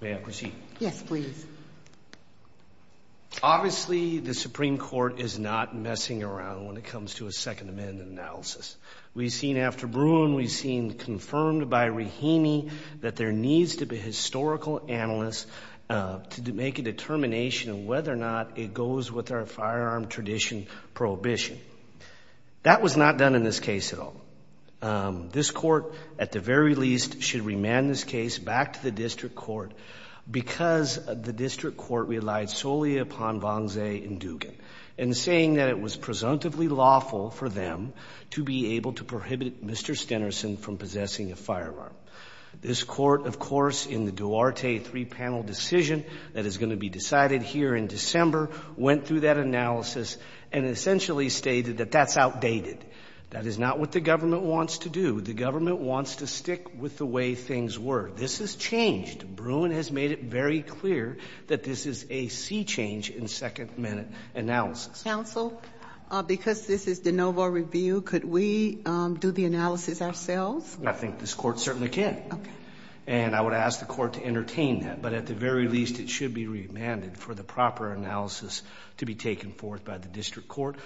May I proceed? Yes, please. Obviously, the Supreme Court is not messing around when it comes to a Second Amendment analysis. We've seen after Bruin, we've seen confirmed by Rahimi that there needs to be historical analysts to make a determination of whether or not it goes with our firearm tradition prohibition. That was not done in this case at all. This Court, at the very least, should remand this case back to the district court because the district court relied solely upon Vongze and Dugan in saying that it was presumptively lawful for them to be able to prohibit Mr. Stennerson from possessing a firearm. This court, of course, in the Duarte three-panel decision that is going to be decided here in December, went through that analysis and essentially stated that that's outdated. That is not what the government wants to do. The government wants to stick with the way things were. This has changed. Bruin has made it very clear that this is a sea change in Second Amendment analysis. Counsel, because this is de novo review, could we do the analysis ourselves? I think this Court certainly can. Okay. And I would ask the Court to entertain that. But at the very least, it should be remanded for the proper analysis to be taken forth by the district court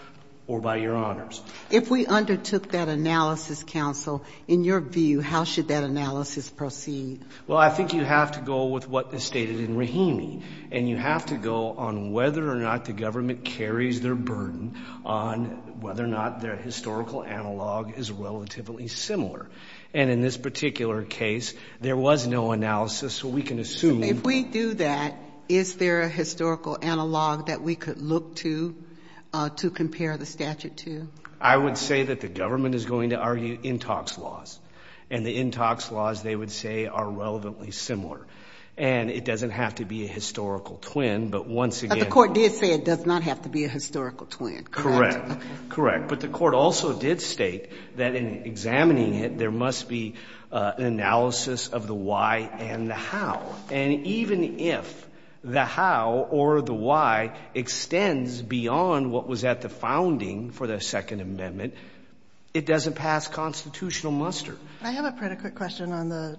or by Your Honors. If we undertook that analysis, Counsel, in your view, how should that analysis proceed? Well, I think you have to go with what is stated in Rahimi, and you have to go on whether or not the government carries their burden on whether or not their historical analog is relatively similar. And in this particular case, there was no analysis, so we can assume. If we do that, is there a historical analog that we could look to to compare the statute to? I would say that the government is going to argue in-talks laws. And the in-talks laws, they would say, are relevantly similar. And it doesn't have to be a historical twin, but once again — But the Court did say it does not have to be a historical twin. Correct. Correct. But the Court also did state that in examining it, there must be an analysis of the why and the how. And even if the how or the why extends beyond what was at the founding for the Second Amendment, it doesn't pass constitutional muster. I have a predicate question on the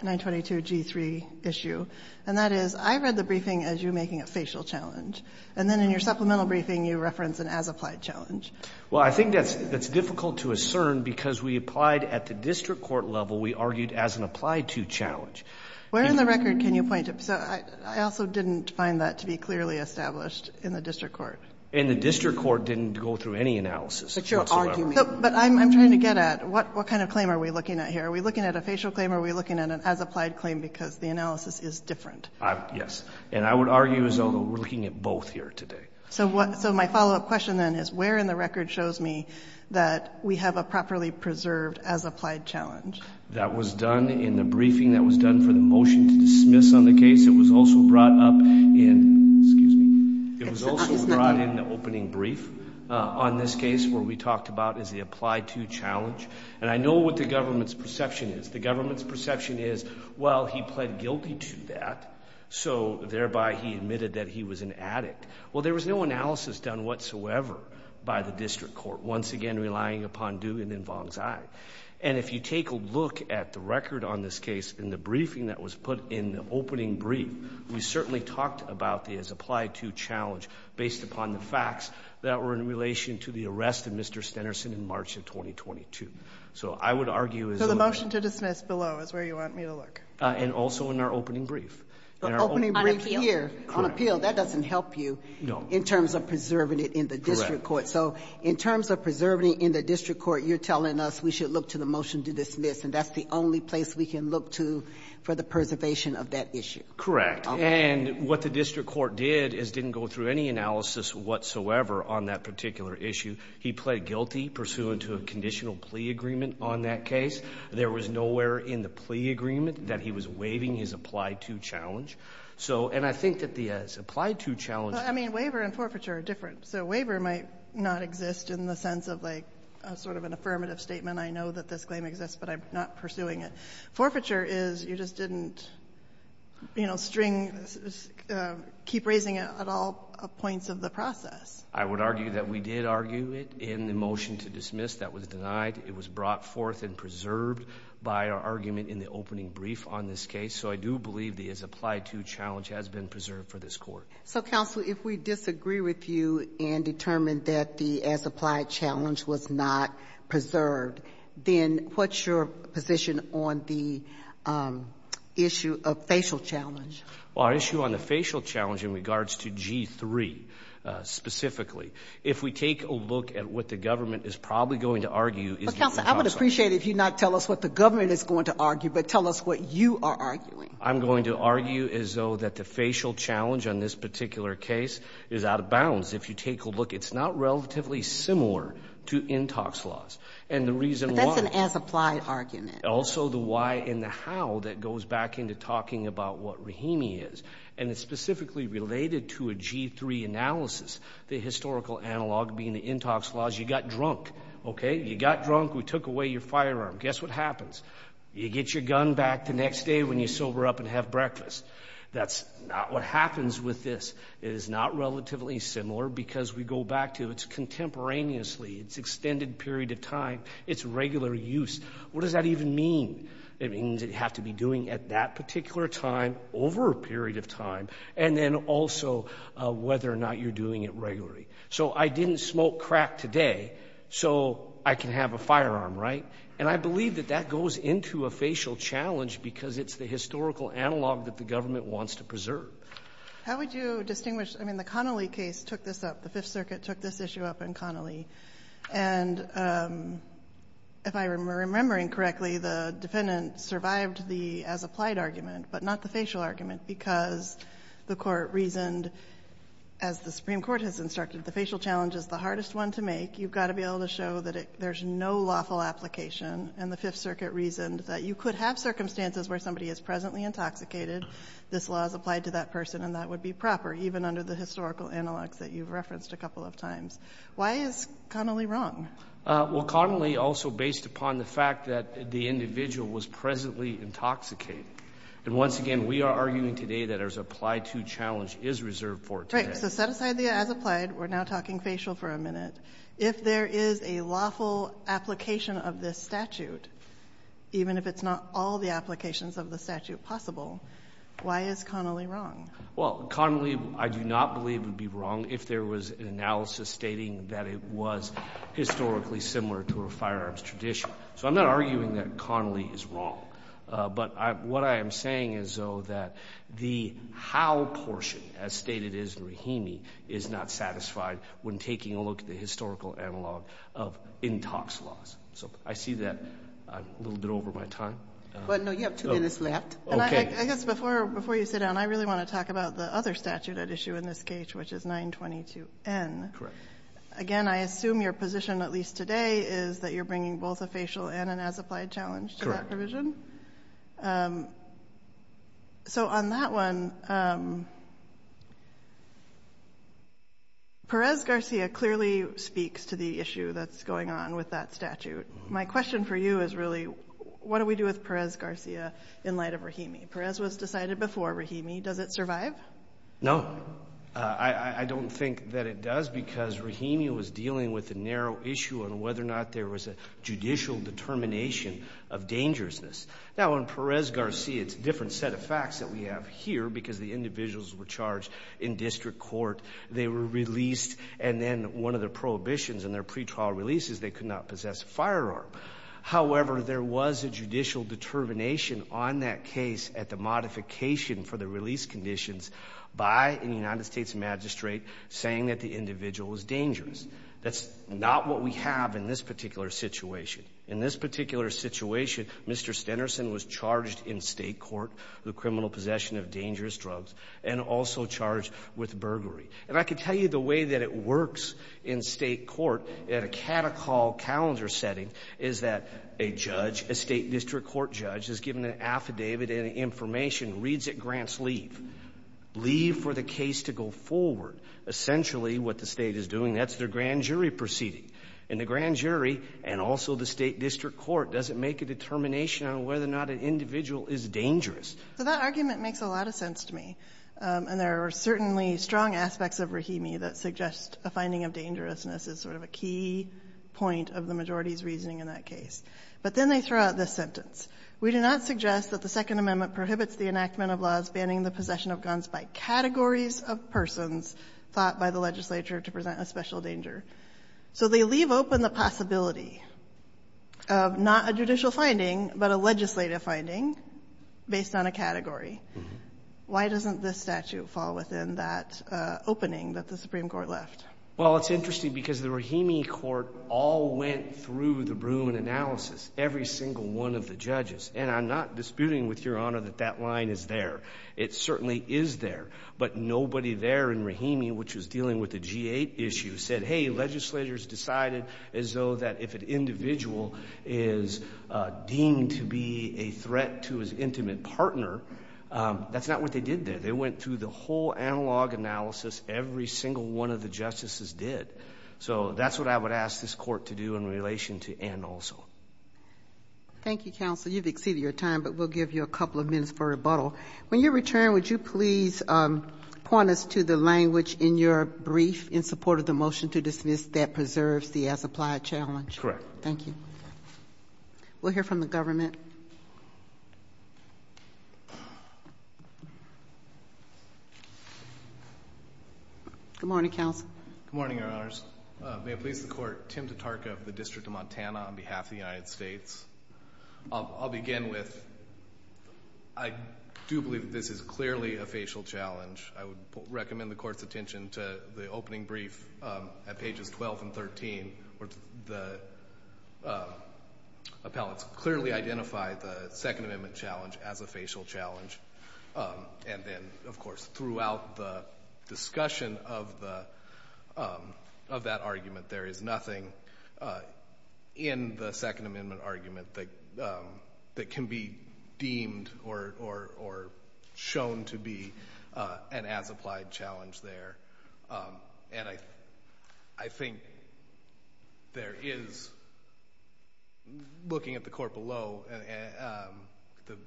922G3 issue, and that is, I read the briefing as you making a facial challenge, and then in your supplemental briefing, you reference an as-applied challenge. Well, I think that's difficult to ascern, because we applied at the district court level, we argued as an applied-to challenge. Where in the record can you point to — so I also didn't find that to be clearly established in the district court. And the district court didn't go through any analysis whatsoever. But you're arguing — But I'm trying to get at, what kind of claim are we looking at here? Are we looking at a facial claim, or are we looking at an as-applied claim, because the analysis is different? Yes. And I would argue as though we're looking at both here today. So my follow-up question, then, is where in the record shows me that we have a properly preserved as-applied challenge? That was done in the briefing. That was done for the motion to dismiss on the case. It was also brought up in — excuse me. It was also brought in the opening brief on this case, where we talked about as the applied-to challenge. And I know what the government's perception is. The government's perception is, well, he pled guilty to that, so thereby he admitted that he was an addict. Well, there was no analysis done whatsoever by the district court, once again relying upon Dewey and then Vong's eye. And if you take a look at the record on this case in the briefing that was put in the brief, we certainly talked about the as-applied-to challenge based upon the facts that were in relation to the arrest of Mr. Stenerson in March of 2022. So I would argue — So the motion to dismiss below is where you want me to look. And also in our opening brief. Opening brief here. On appeal. That doesn't help you. No. In terms of preserving it in the district court. Correct. So in terms of preserving it in the district court, you're telling us we should look to the motion to dismiss, and that's the only place we can look to for the preservation of that issue. And what the district court did is didn't go through any analysis whatsoever on that particular issue. He pled guilty pursuant to a conditional plea agreement on that case. There was nowhere in the plea agreement that he was waiving his applied-to challenge. So — and I think that the as-applied-to challenge — Well, I mean, waiver and forfeiture are different. So waiver might not exist in the sense of, like, sort of an affirmative statement, I know that this claim exists, but I'm not pursuing it. Forfeiture is you just didn't, you know, string — keep raising it at all points of the process. I would argue that we did argue it in the motion to dismiss. That was denied. It was brought forth and preserved by our argument in the opening brief on this case. So I do believe the as-applied-to challenge has been preserved for this court. So, counsel, if we disagree with you and determine that the as-applied challenge was not preserved, then what's your position on the issue of facial challenge? Well, our issue on the facial challenge in regards to G-3, specifically, if we take a look at what the government is probably going to argue is different from counsel. But, counsel, I would appreciate it if you not tell us what the government is going to argue, but tell us what you are arguing. I'm going to argue as though that the facial challenge on this particular case is out of bounds. Because if you take a look, it's not relatively similar to Intox laws. And the reason why — But that's an as-applied argument. Also the why and the how that goes back into talking about what Rahimi is. And it's specifically related to a G-3 analysis, the historical analog being the Intox laws. You got drunk. Okay? You got drunk. We took away your firearm. Guess what happens? You get your gun back the next day when you sober up and have breakfast. That's not what happens with this. It is not relatively similar because we go back to its contemporaneously, its extended period of time, its regular use. What does that even mean? It means it has to be doing at that particular time over a period of time, and then also whether or not you're doing it regularly. So I didn't smoke crack today so I can have a firearm, right? And I believe that that goes into a facial challenge because it's the historical analog that the government wants to preserve. How would you distinguish? I mean, the Connolly case took this up. The Fifth Circuit took this issue up in Connolly. And if I'm remembering correctly, the defendant survived the as-applied argument, but not the facial argument, because the Court reasoned, as the Supreme Court has instructed, the facial challenge is the hardest one to make. You've got to be able to show that there's no lawful application. And the Fifth Circuit reasoned that you could have circumstances where somebody is presently intoxicated. This law is applied to that person, and that would be proper, even under the historical analogs that you've referenced a couple of times. Why is Connolly wrong? Well, Connolly also based upon the fact that the individual was presently intoxicated. And once again, we are arguing today that there's an apply-to challenge is reserved for today. Right. So set aside the as-applied. We're now talking facial for a minute. If there is a lawful application of this statute, even if it's not all the Why is Connolly wrong? Well, Connolly, I do not believe would be wrong if there was an analysis stating that it was historically similar to a firearms tradition. So I'm not arguing that Connolly is wrong. But what I am saying is, though, that the how portion, as stated is in Rahimi, is not satisfied when taking a look at the historical analog of intox laws. So I see that I'm a little bit over my time. Well, no, you have two minutes left. Okay. I guess before you sit down, I really want to talk about the other statute at issue in this case, which is 922N. Correct. Again, I assume your position, at least today, is that you're bringing both a facial and an as-applied challenge to that provision? So on that one, Perez-Garcia clearly speaks to the issue that's going on with that statute. My question for you is really what do we do with Perez-Garcia in light of Rahimi? Perez was decided before Rahimi. Does it survive? No. I don't think that it does because Rahimi was dealing with a narrow issue on whether or not there was a judicial determination of dangerousness. Now, on Perez-Garcia, it's a different set of facts that we have here because the individuals were charged in district court. They were released. And then one of the prohibitions in their pretrial release is they could not carry a firearm. However, there was a judicial determination on that case at the modification for the release conditions by a United States magistrate saying that the individual was dangerous. That's not what we have in this particular situation. In this particular situation, Mr. Stenerson was charged in state court with criminal possession of dangerous drugs and also charged with burglary. And I can tell you the way that it works in state court at a catechol calendar setting is that a judge, a state district court judge, is given an affidavit and information, reads it, grants leave. Leave for the case to go forward. Essentially what the State is doing, that's their grand jury proceeding. And the grand jury and also the state district court doesn't make a determination on whether or not an individual is dangerous. So that argument makes a lot of sense to me. And there are certainly strong aspects of Rahimi that suggest a finding of dangerousness is sort of a key point of the majority's reasoning in that case. But then they throw out this sentence. We do not suggest that the Second Amendment prohibits the enactment of laws banning the possession of guns by categories of persons thought by the legislature to present a special danger. So they leave open the possibility of not a judicial finding, but a legislative finding based on a category. Why doesn't this statute fall within that opening that the Supreme Court left? Well, it's interesting because the Rahimi court all went through the Bruin analysis, every single one of the judges. And I'm not disputing with Your Honor that that line is there. It certainly is there. But nobody there in Rahimi, which was dealing with the G-8 issue, said, hey, legislature's decided as though that if an individual is deemed to be a threat to his intimate partner, that's not what they did there. They went through the whole analog analysis every single one of the justices did. So that's what I would ask this court to do in relation to Ann also. Thank you, counsel. You've exceeded your time, but we'll give you a couple of minutes for rebuttal. When you return, would you please point us to the language in your brief in support of the motion to dismiss that preserves the as-applied challenge? Correct. Thank you. We'll hear from the government. Good morning, counsel. Good morning, Your Honors. May it please the Court, Tim Tatarka of the District of Montana on behalf of the United States. I'll begin with I do believe that this is clearly a facial challenge. I would recommend the Court's attention to the opening brief at pages 12 and 13 where the appellants clearly identify the Second Amendment challenge as a facial challenge. And then, of course, throughout the discussion of that argument, there is nothing in the Second Amendment argument that can be deemed or shown to be an as-applied challenge there. And I think there is, looking at the Court below,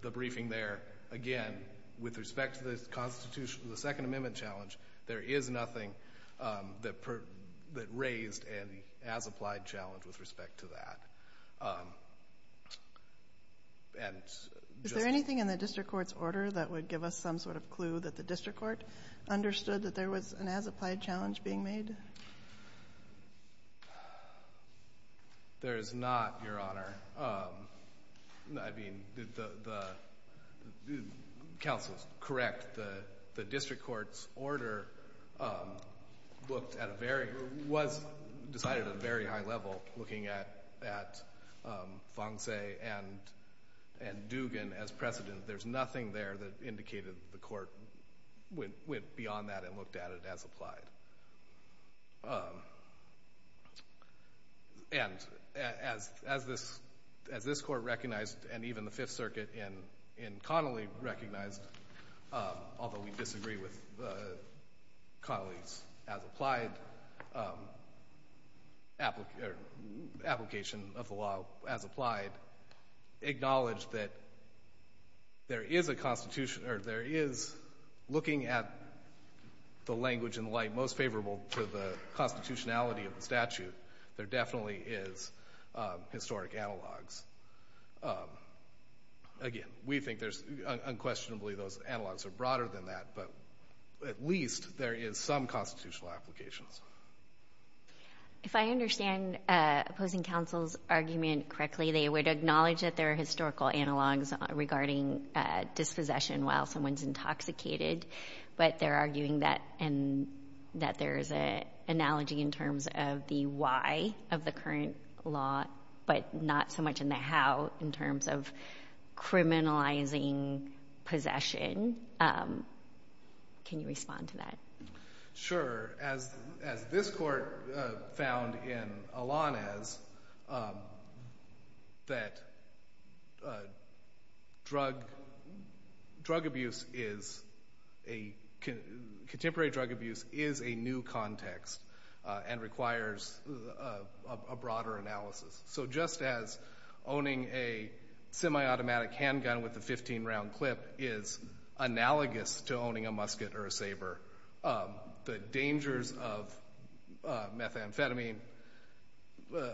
the briefing there, again, with respect to the Second Amendment challenge, there is nothing that raised an as-applied challenge with respect to that. Is there anything in the District Court's order that would give us some sort of clue that the District Court understood that there was an as-applied challenge being made? There is not, Your Honor. I mean, the counsel is correct. The District Court's order was decided at a very high level, looking at Fong Say and Dugan as precedent. There is nothing there that indicated the Court went beyond that and looked at it as applied. And as this Court recognized, and even the Fifth Circuit in Connolly recognized, although we disagree with Connolly's application of the law as applied, acknowledged that there is looking at the language in light most favorable to the constitutionality of the statute, there definitely is historic analogs. Again, we think unquestionably those analogs are broader than that, but at least there is some constitutional applications. If I understand opposing counsel's argument correctly, they would acknowledge that there are historical analogs regarding dispossession while someone is intoxicated, but they're arguing that there is an analogy in terms of the why of the current law, but not so much in the how in terms of criminalizing possession. Can you respond to that? Sure. As this Court found in Alanes, that drug abuse is, contemporary drug abuse is a new context and requires a broader analysis. So just as owning a semi-automatic handgun with a 15-round clip is analogous to owning a musket or a saber, the dangers of methamphetamine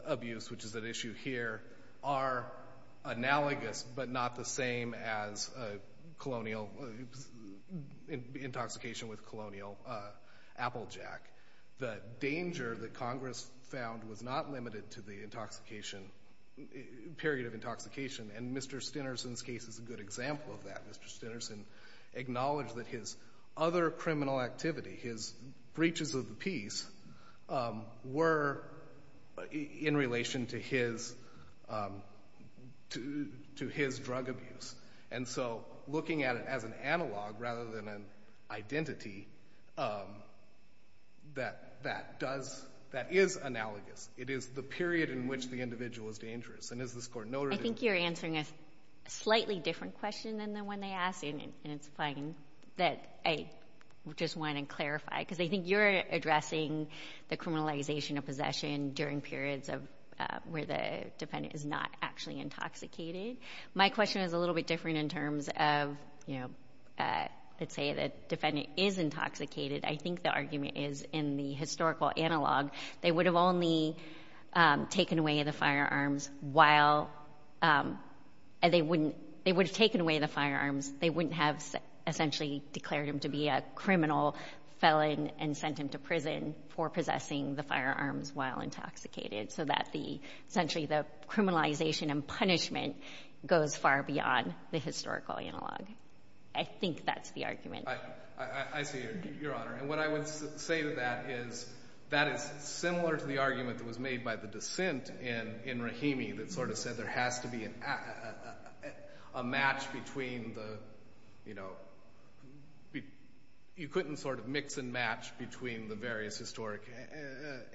abuse, which is at issue here, are analogous but not the same as colonial, intoxication with colonial applejack. The danger that Congress found was not limited to the intoxication, period of intoxication, and Mr. Stinnerson's case is a good example of that. Mr. Stinnerson acknowledged that his other criminal activity, his breaches of the peace, were in relation to his drug abuse. And so looking at it as an analog rather than an identity, that is analogous. It is the period in which the individual is dangerous. And as this Court noted— I think you're answering a slightly different question than the one they asked, and it's fine, that I just want to clarify. Because I think you're addressing the criminalization of possession during periods where the defendant is not actually intoxicated. My question is a little bit different in terms of, you know, let's say the defendant is intoxicated. I think the argument is in the historical analog. They would have only taken away the firearms while— they would have taken away the firearms. They wouldn't have essentially declared him to be a criminal felon and sent him to prison for possessing the firearms while intoxicated so that essentially the criminalization and punishment goes far beyond the historical analog. I think that's the argument. I see it, Your Honor. And what I would say to that is that is similar to the argument that was made by the dissent in Rahimi that sort of said there has to be a match between the, you know— you couldn't sort of mix and match between the various historic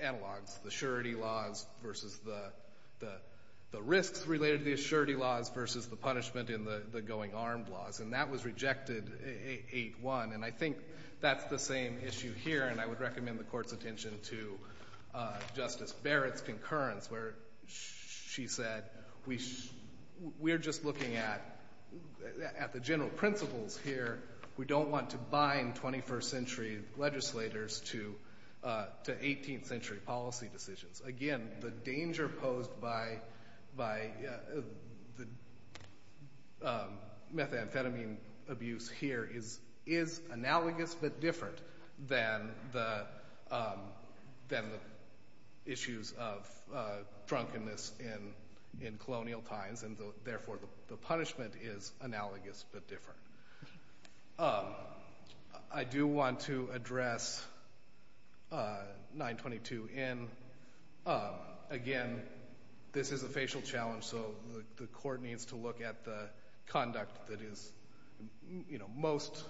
analogs, the surety laws versus the risks related to the surety laws versus the punishment in the going armed laws. And that was rejected 8-1. And I think that's the same issue here, and I would recommend the Court's attention to Justice Barrett's concurrence where she said we're just looking at the general principles here. We don't want to bind 21st century legislators to 18th century policy decisions. Again, the danger posed by the methamphetamine abuse here is analogous but different than the issues of drunkenness in colonial times, and therefore the punishment is analogous but different. I do want to address 922 in. Again, this is a facial challenge, so the Court needs to look at the conduct that is most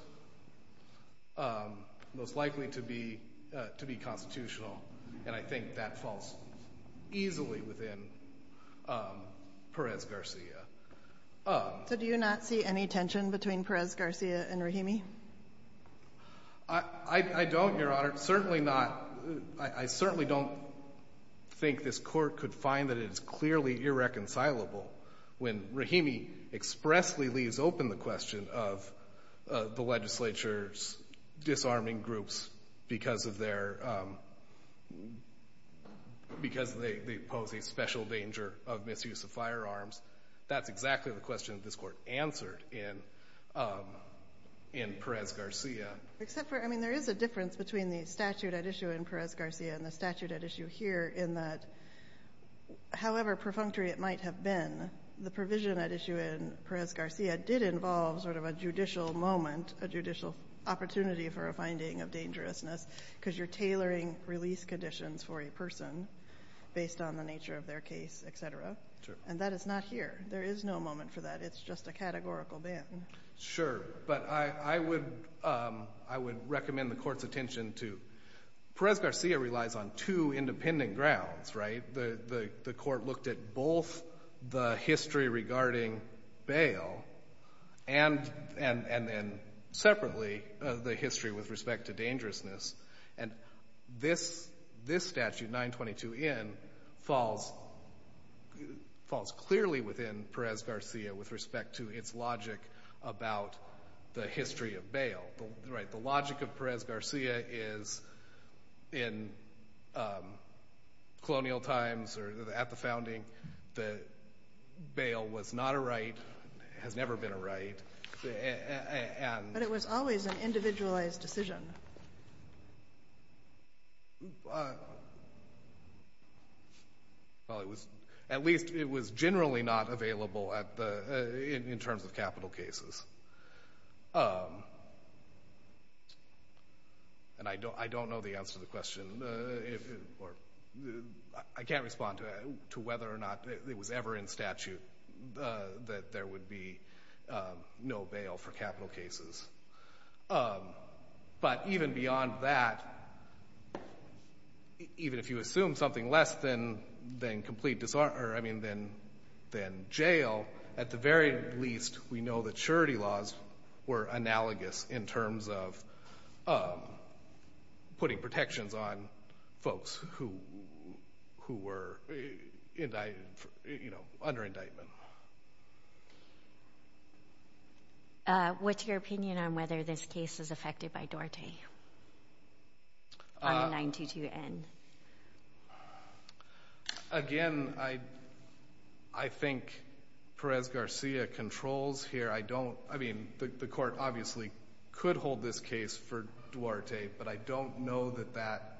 likely to be constitutional, and I think that falls easily within Perez-Garcia. So do you not see any tension between Perez-Garcia and Rahimi? I don't, Your Honor. I certainly don't think this Court could find that it is clearly irreconcilable when Rahimi expressly leaves open the question of the legislature's disarming groups because they pose a special danger of misuse of firearms. That's exactly the question that this Court answered in Perez-Garcia. There is a difference between the statute at issue in Perez-Garcia and the statute at issue here in that, however perfunctory it might have been, the provision at issue in Perez-Garcia did involve sort of a judicial moment, a judicial opportunity for a finding of dangerousness because you're tailoring release conditions for a person based on the nature of their case, etc., and that is not here. There is no moment for that. It's just a categorical ban. Sure. But I would recommend the Court's attention to Perez-Garcia relies on two independent grounds, right? The Court looked at both the history regarding bail and then separately the history with respect to dangerousness, and this statute, 922N, falls clearly within Perez-Garcia with respect to its logic about the history of bail. The logic of Perez-Garcia is in colonial times or at the founding, the bail was not a right, has never been a right. But it was always an individualized decision. Well, at least it was generally not available in terms of capital cases. And I don't know the answer to the question. I can't respond to whether or not it was ever in statute that there would be no bail for capital cases. But even beyond that, even if you assume something less than jail, at the very least, we know that surety laws were analogous in terms of putting protections on folks who were under indictment. What's your opinion on whether this case is affected by Dorte on 922N? Again, I think Perez-Garcia controls here. I mean, the court obviously could hold this case for Dorte, but I don't know that that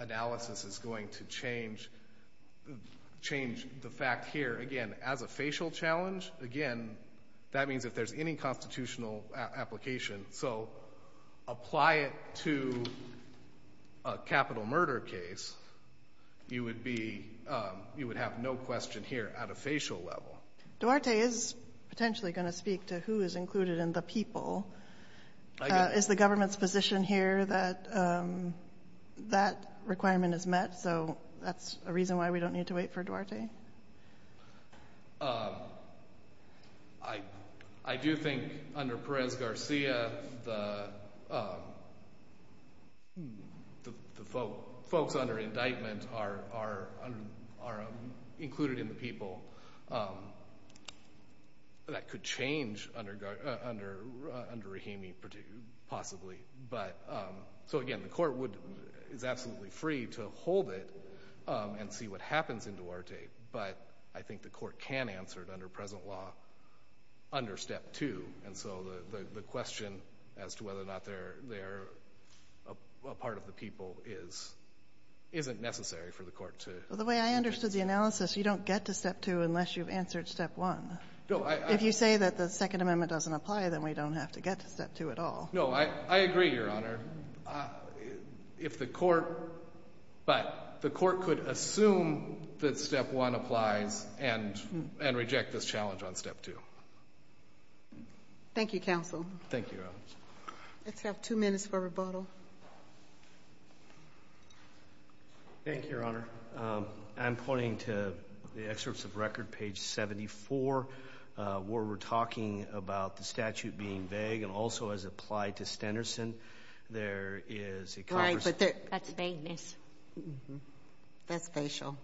analysis is going to change the fact here. Again, as a facial challenge, again, that means if there's any constitutional application, so apply it to a capital murder case, you would have no question here at a facial level. Dorte is potentially going to speak to who is included in the people. Is the government's position here that that requirement is met, so that's a reason why we don't need to wait for Dorte? I do think under Perez-Garcia, the folks under indictment are included in the people. That could change under Rahimi, possibly. So again, the court is absolutely free to hold it and see what happens in Dorte, but I think the court can answer it under present law under Step 2. And so the question as to whether or not they're a part of the people isn't necessary for the court to... Well, the way I understood the analysis, you don't get to Step 2 unless you've answered Step 1. If you say that the Second Amendment doesn't apply, then we don't have to get to Step 2 at all. No, I agree, Your Honor. If the court... But the court could assume that Step 1 applies and reject this challenge on Step 2. Thank you, counsel. Thank you, Your Honor. Let's have two minutes for rebuttal. Thank you, Your Honor. I'm pointing to the excerpts of record, page 74, where we're talking about the statute being vague and also as applied to Stenderson, there is a... Right, but that's vagueness. That's facial.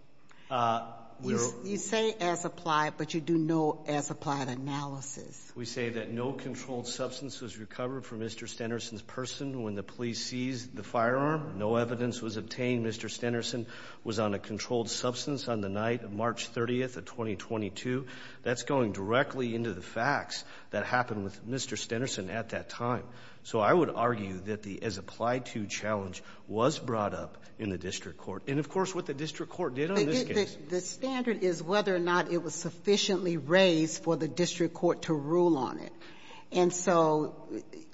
You say as applied, but you do no as applied analysis. We say that no controlled substance was recovered from Mr. Stenderson's person when the police seized the firearm. No evidence was obtained. Mr. Stenderson was on a controlled substance on the night of March 30th of 2022. That's going directly into the facts that happened with Mr. Stenderson at that time. So I would argue that the as applied to challenge was brought up in the district court. And, of course, what the district court did on this case. The standard is whether or not it was sufficiently raised for the district court to rule on it. And so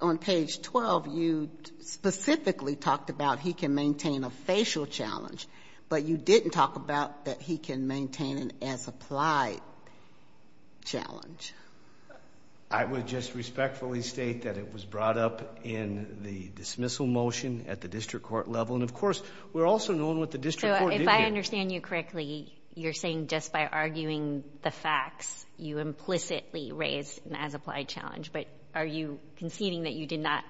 on page 12, you specifically talked about he can maintain a facial challenge, but you didn't talk about that he can maintain an as applied challenge. I would just respectfully state that it was brought up in the dismissal motion at the district court level. And, of course, we're also knowing what the district court did here. So if I understand you correctly, you're saying just by arguing the facts, you implicitly raised an as applied challenge. But are you conceding that you did not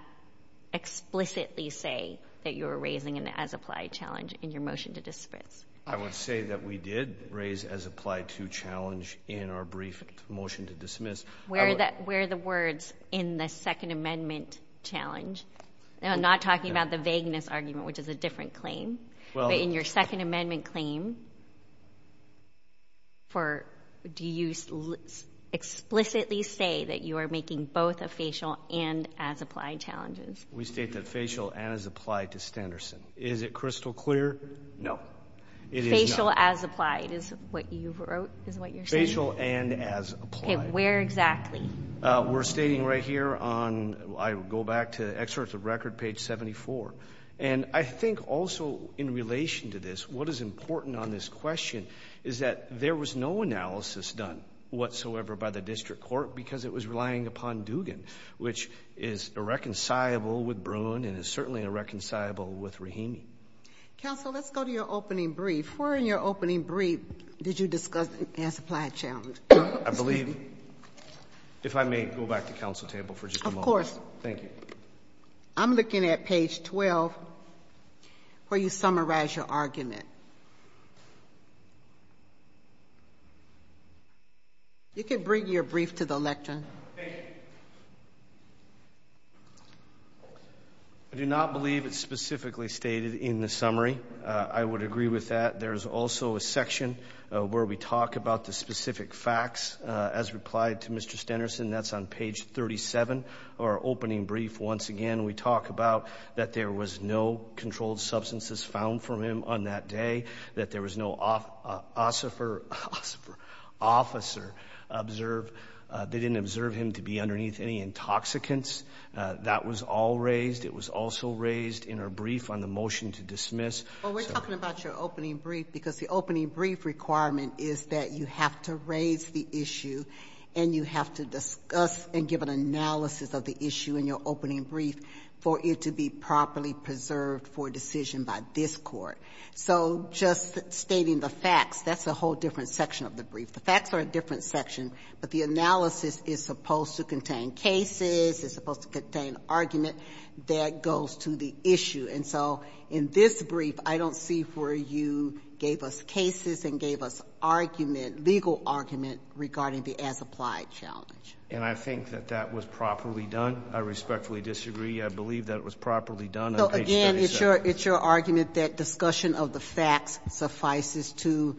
explicitly say that you were raising an as applied challenge in your motion to dismiss? I would say that we did raise as applied to challenge in our brief motion to dismiss. Where are the words in the Second Amendment challenge? I'm not talking about the vagueness argument, which is a different claim. But in your Second Amendment claim, do you explicitly say that you are making both a facial and as applied challenges? We state that facial and as applied to Standerson. Is it crystal clear? No. Facial as applied is what you're saying? Facial and as applied. Where exactly? We're stating right here on, I go back to excerpts of record, page 74. And I think also in relation to this, what is important on this question is that there was no analysis done whatsoever by the district court because it was relying upon Dugan, which is irreconcilable with Bruin and is certainly irreconcilable with Rahimi. Counsel, let's go to your opening brief. Where in your opening brief did you discuss an as applied challenge? I believe, if I may go back to counsel table for just a moment. Thank you. I'm looking at page 12 where you summarize your argument. You can bring your brief to the lectern. Thank you. I do not believe it's specifically stated in the summary. I would agree with that. There's also a section where we talk about the specific facts as replied to Mr. Stenerson. That's on page 37 of our opening brief. Once again, we talk about that there was no controlled substances found from him on that day, that there was no officer observed. They didn't observe him to be underneath any intoxicants. That was all raised. It was also raised in our brief on the motion to dismiss. Well, we're talking about your opening brief because the opening brief requirement is that you have to raise the issue and you have to discuss and give an analysis of the issue in your opening brief for it to be properly preserved for decision by this Court. So just stating the facts, that's a whole different section of the brief. The facts are a different section, but the analysis is supposed to contain cases, it's supposed to contain argument that goes to the issue. And so in this brief, I don't see where you gave us cases and gave us argument, legal argument regarding the as-applied challenge. And I think that that was properly done. I respectfully disagree. I believe that it was properly done on page 37. So, again, it's your argument that discussion of the facts suffices to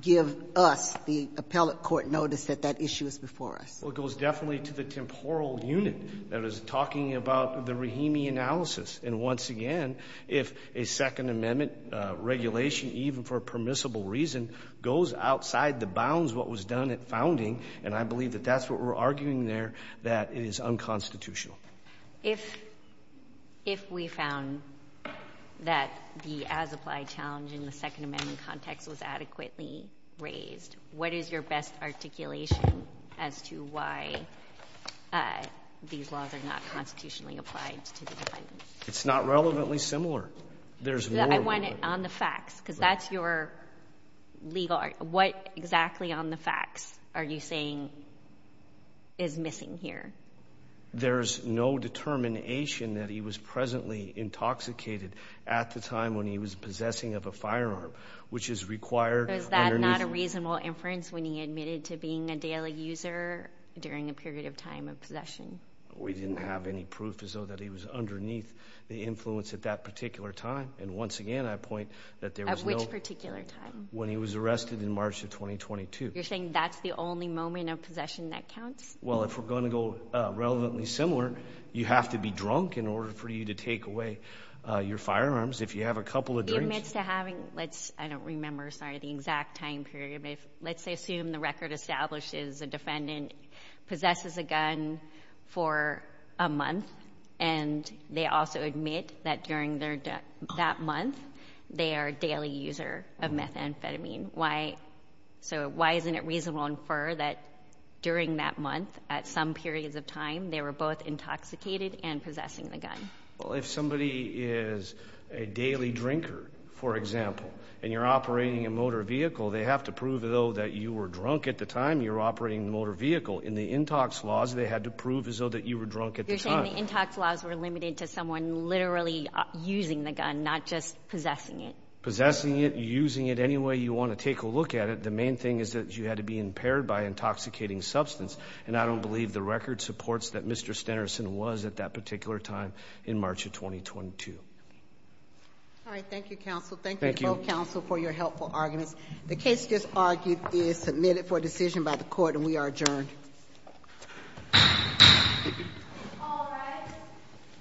give us, the appellate court, notice that that issue is before us. Well, it goes definitely to the temporal unit that is talking about the Rahimi analysis. And, once again, if a Second Amendment regulation, even for a permissible reason, goes outside the bounds of what was done at founding, and I believe that that's what we're arguing there, that it is unconstitutional. If we found that the as-applied challenge in the Second Amendment context was unconstitutional, I don't see why these laws are not constitutionally applied to the defendant. It's not relevantly similar. There's more relevant. I want it on the facts, because that's your legal argument. What exactly on the facts are you saying is missing here? There's no determination that he was presently intoxicated at the time when he was possessing of a firearm, which is required underneath the statute. We didn't have any proof as though that he was underneath the influence at that particular time. And, once again, I point that there was no... At which particular time? When he was arrested in March of 2022. You're saying that's the only moment of possession that counts? Well, if we're going to go relevantly similar, you have to be drunk in order for you to take away your firearms. If you have a couple of drinks... He admits to having, let's, I don't remember, sorry, the exact time period. Let's assume the record establishes the defendant possesses a gun for a month, and they also admit that, during that month, they are a daily user of methamphetamine. Why isn't it reasonable to infer that, during that month, at some periods of time, they were both intoxicated and possessing the gun? Well, if somebody is a daily drinker, for example, and you're operating a motor vehicle, they have to prove, though, that you were drunk at the time you were operating the motor vehicle. In the intox laws, they had to prove as though that you were drunk at the time. You're saying the intox laws were limited to someone literally using the gun, not just possessing it? Possessing it, using it any way you want to take a look at it. The main thing is that you had to be impaired by intoxicating substance, and I don't believe the record supports that Mr. Stenerson was at that particular time in March of 2022. All right. Thank you, counsel. Thank you. Thank you, counsel, for your helpful arguments. The case just argued is submitted for decision by the court, and we are adjourned. All rise.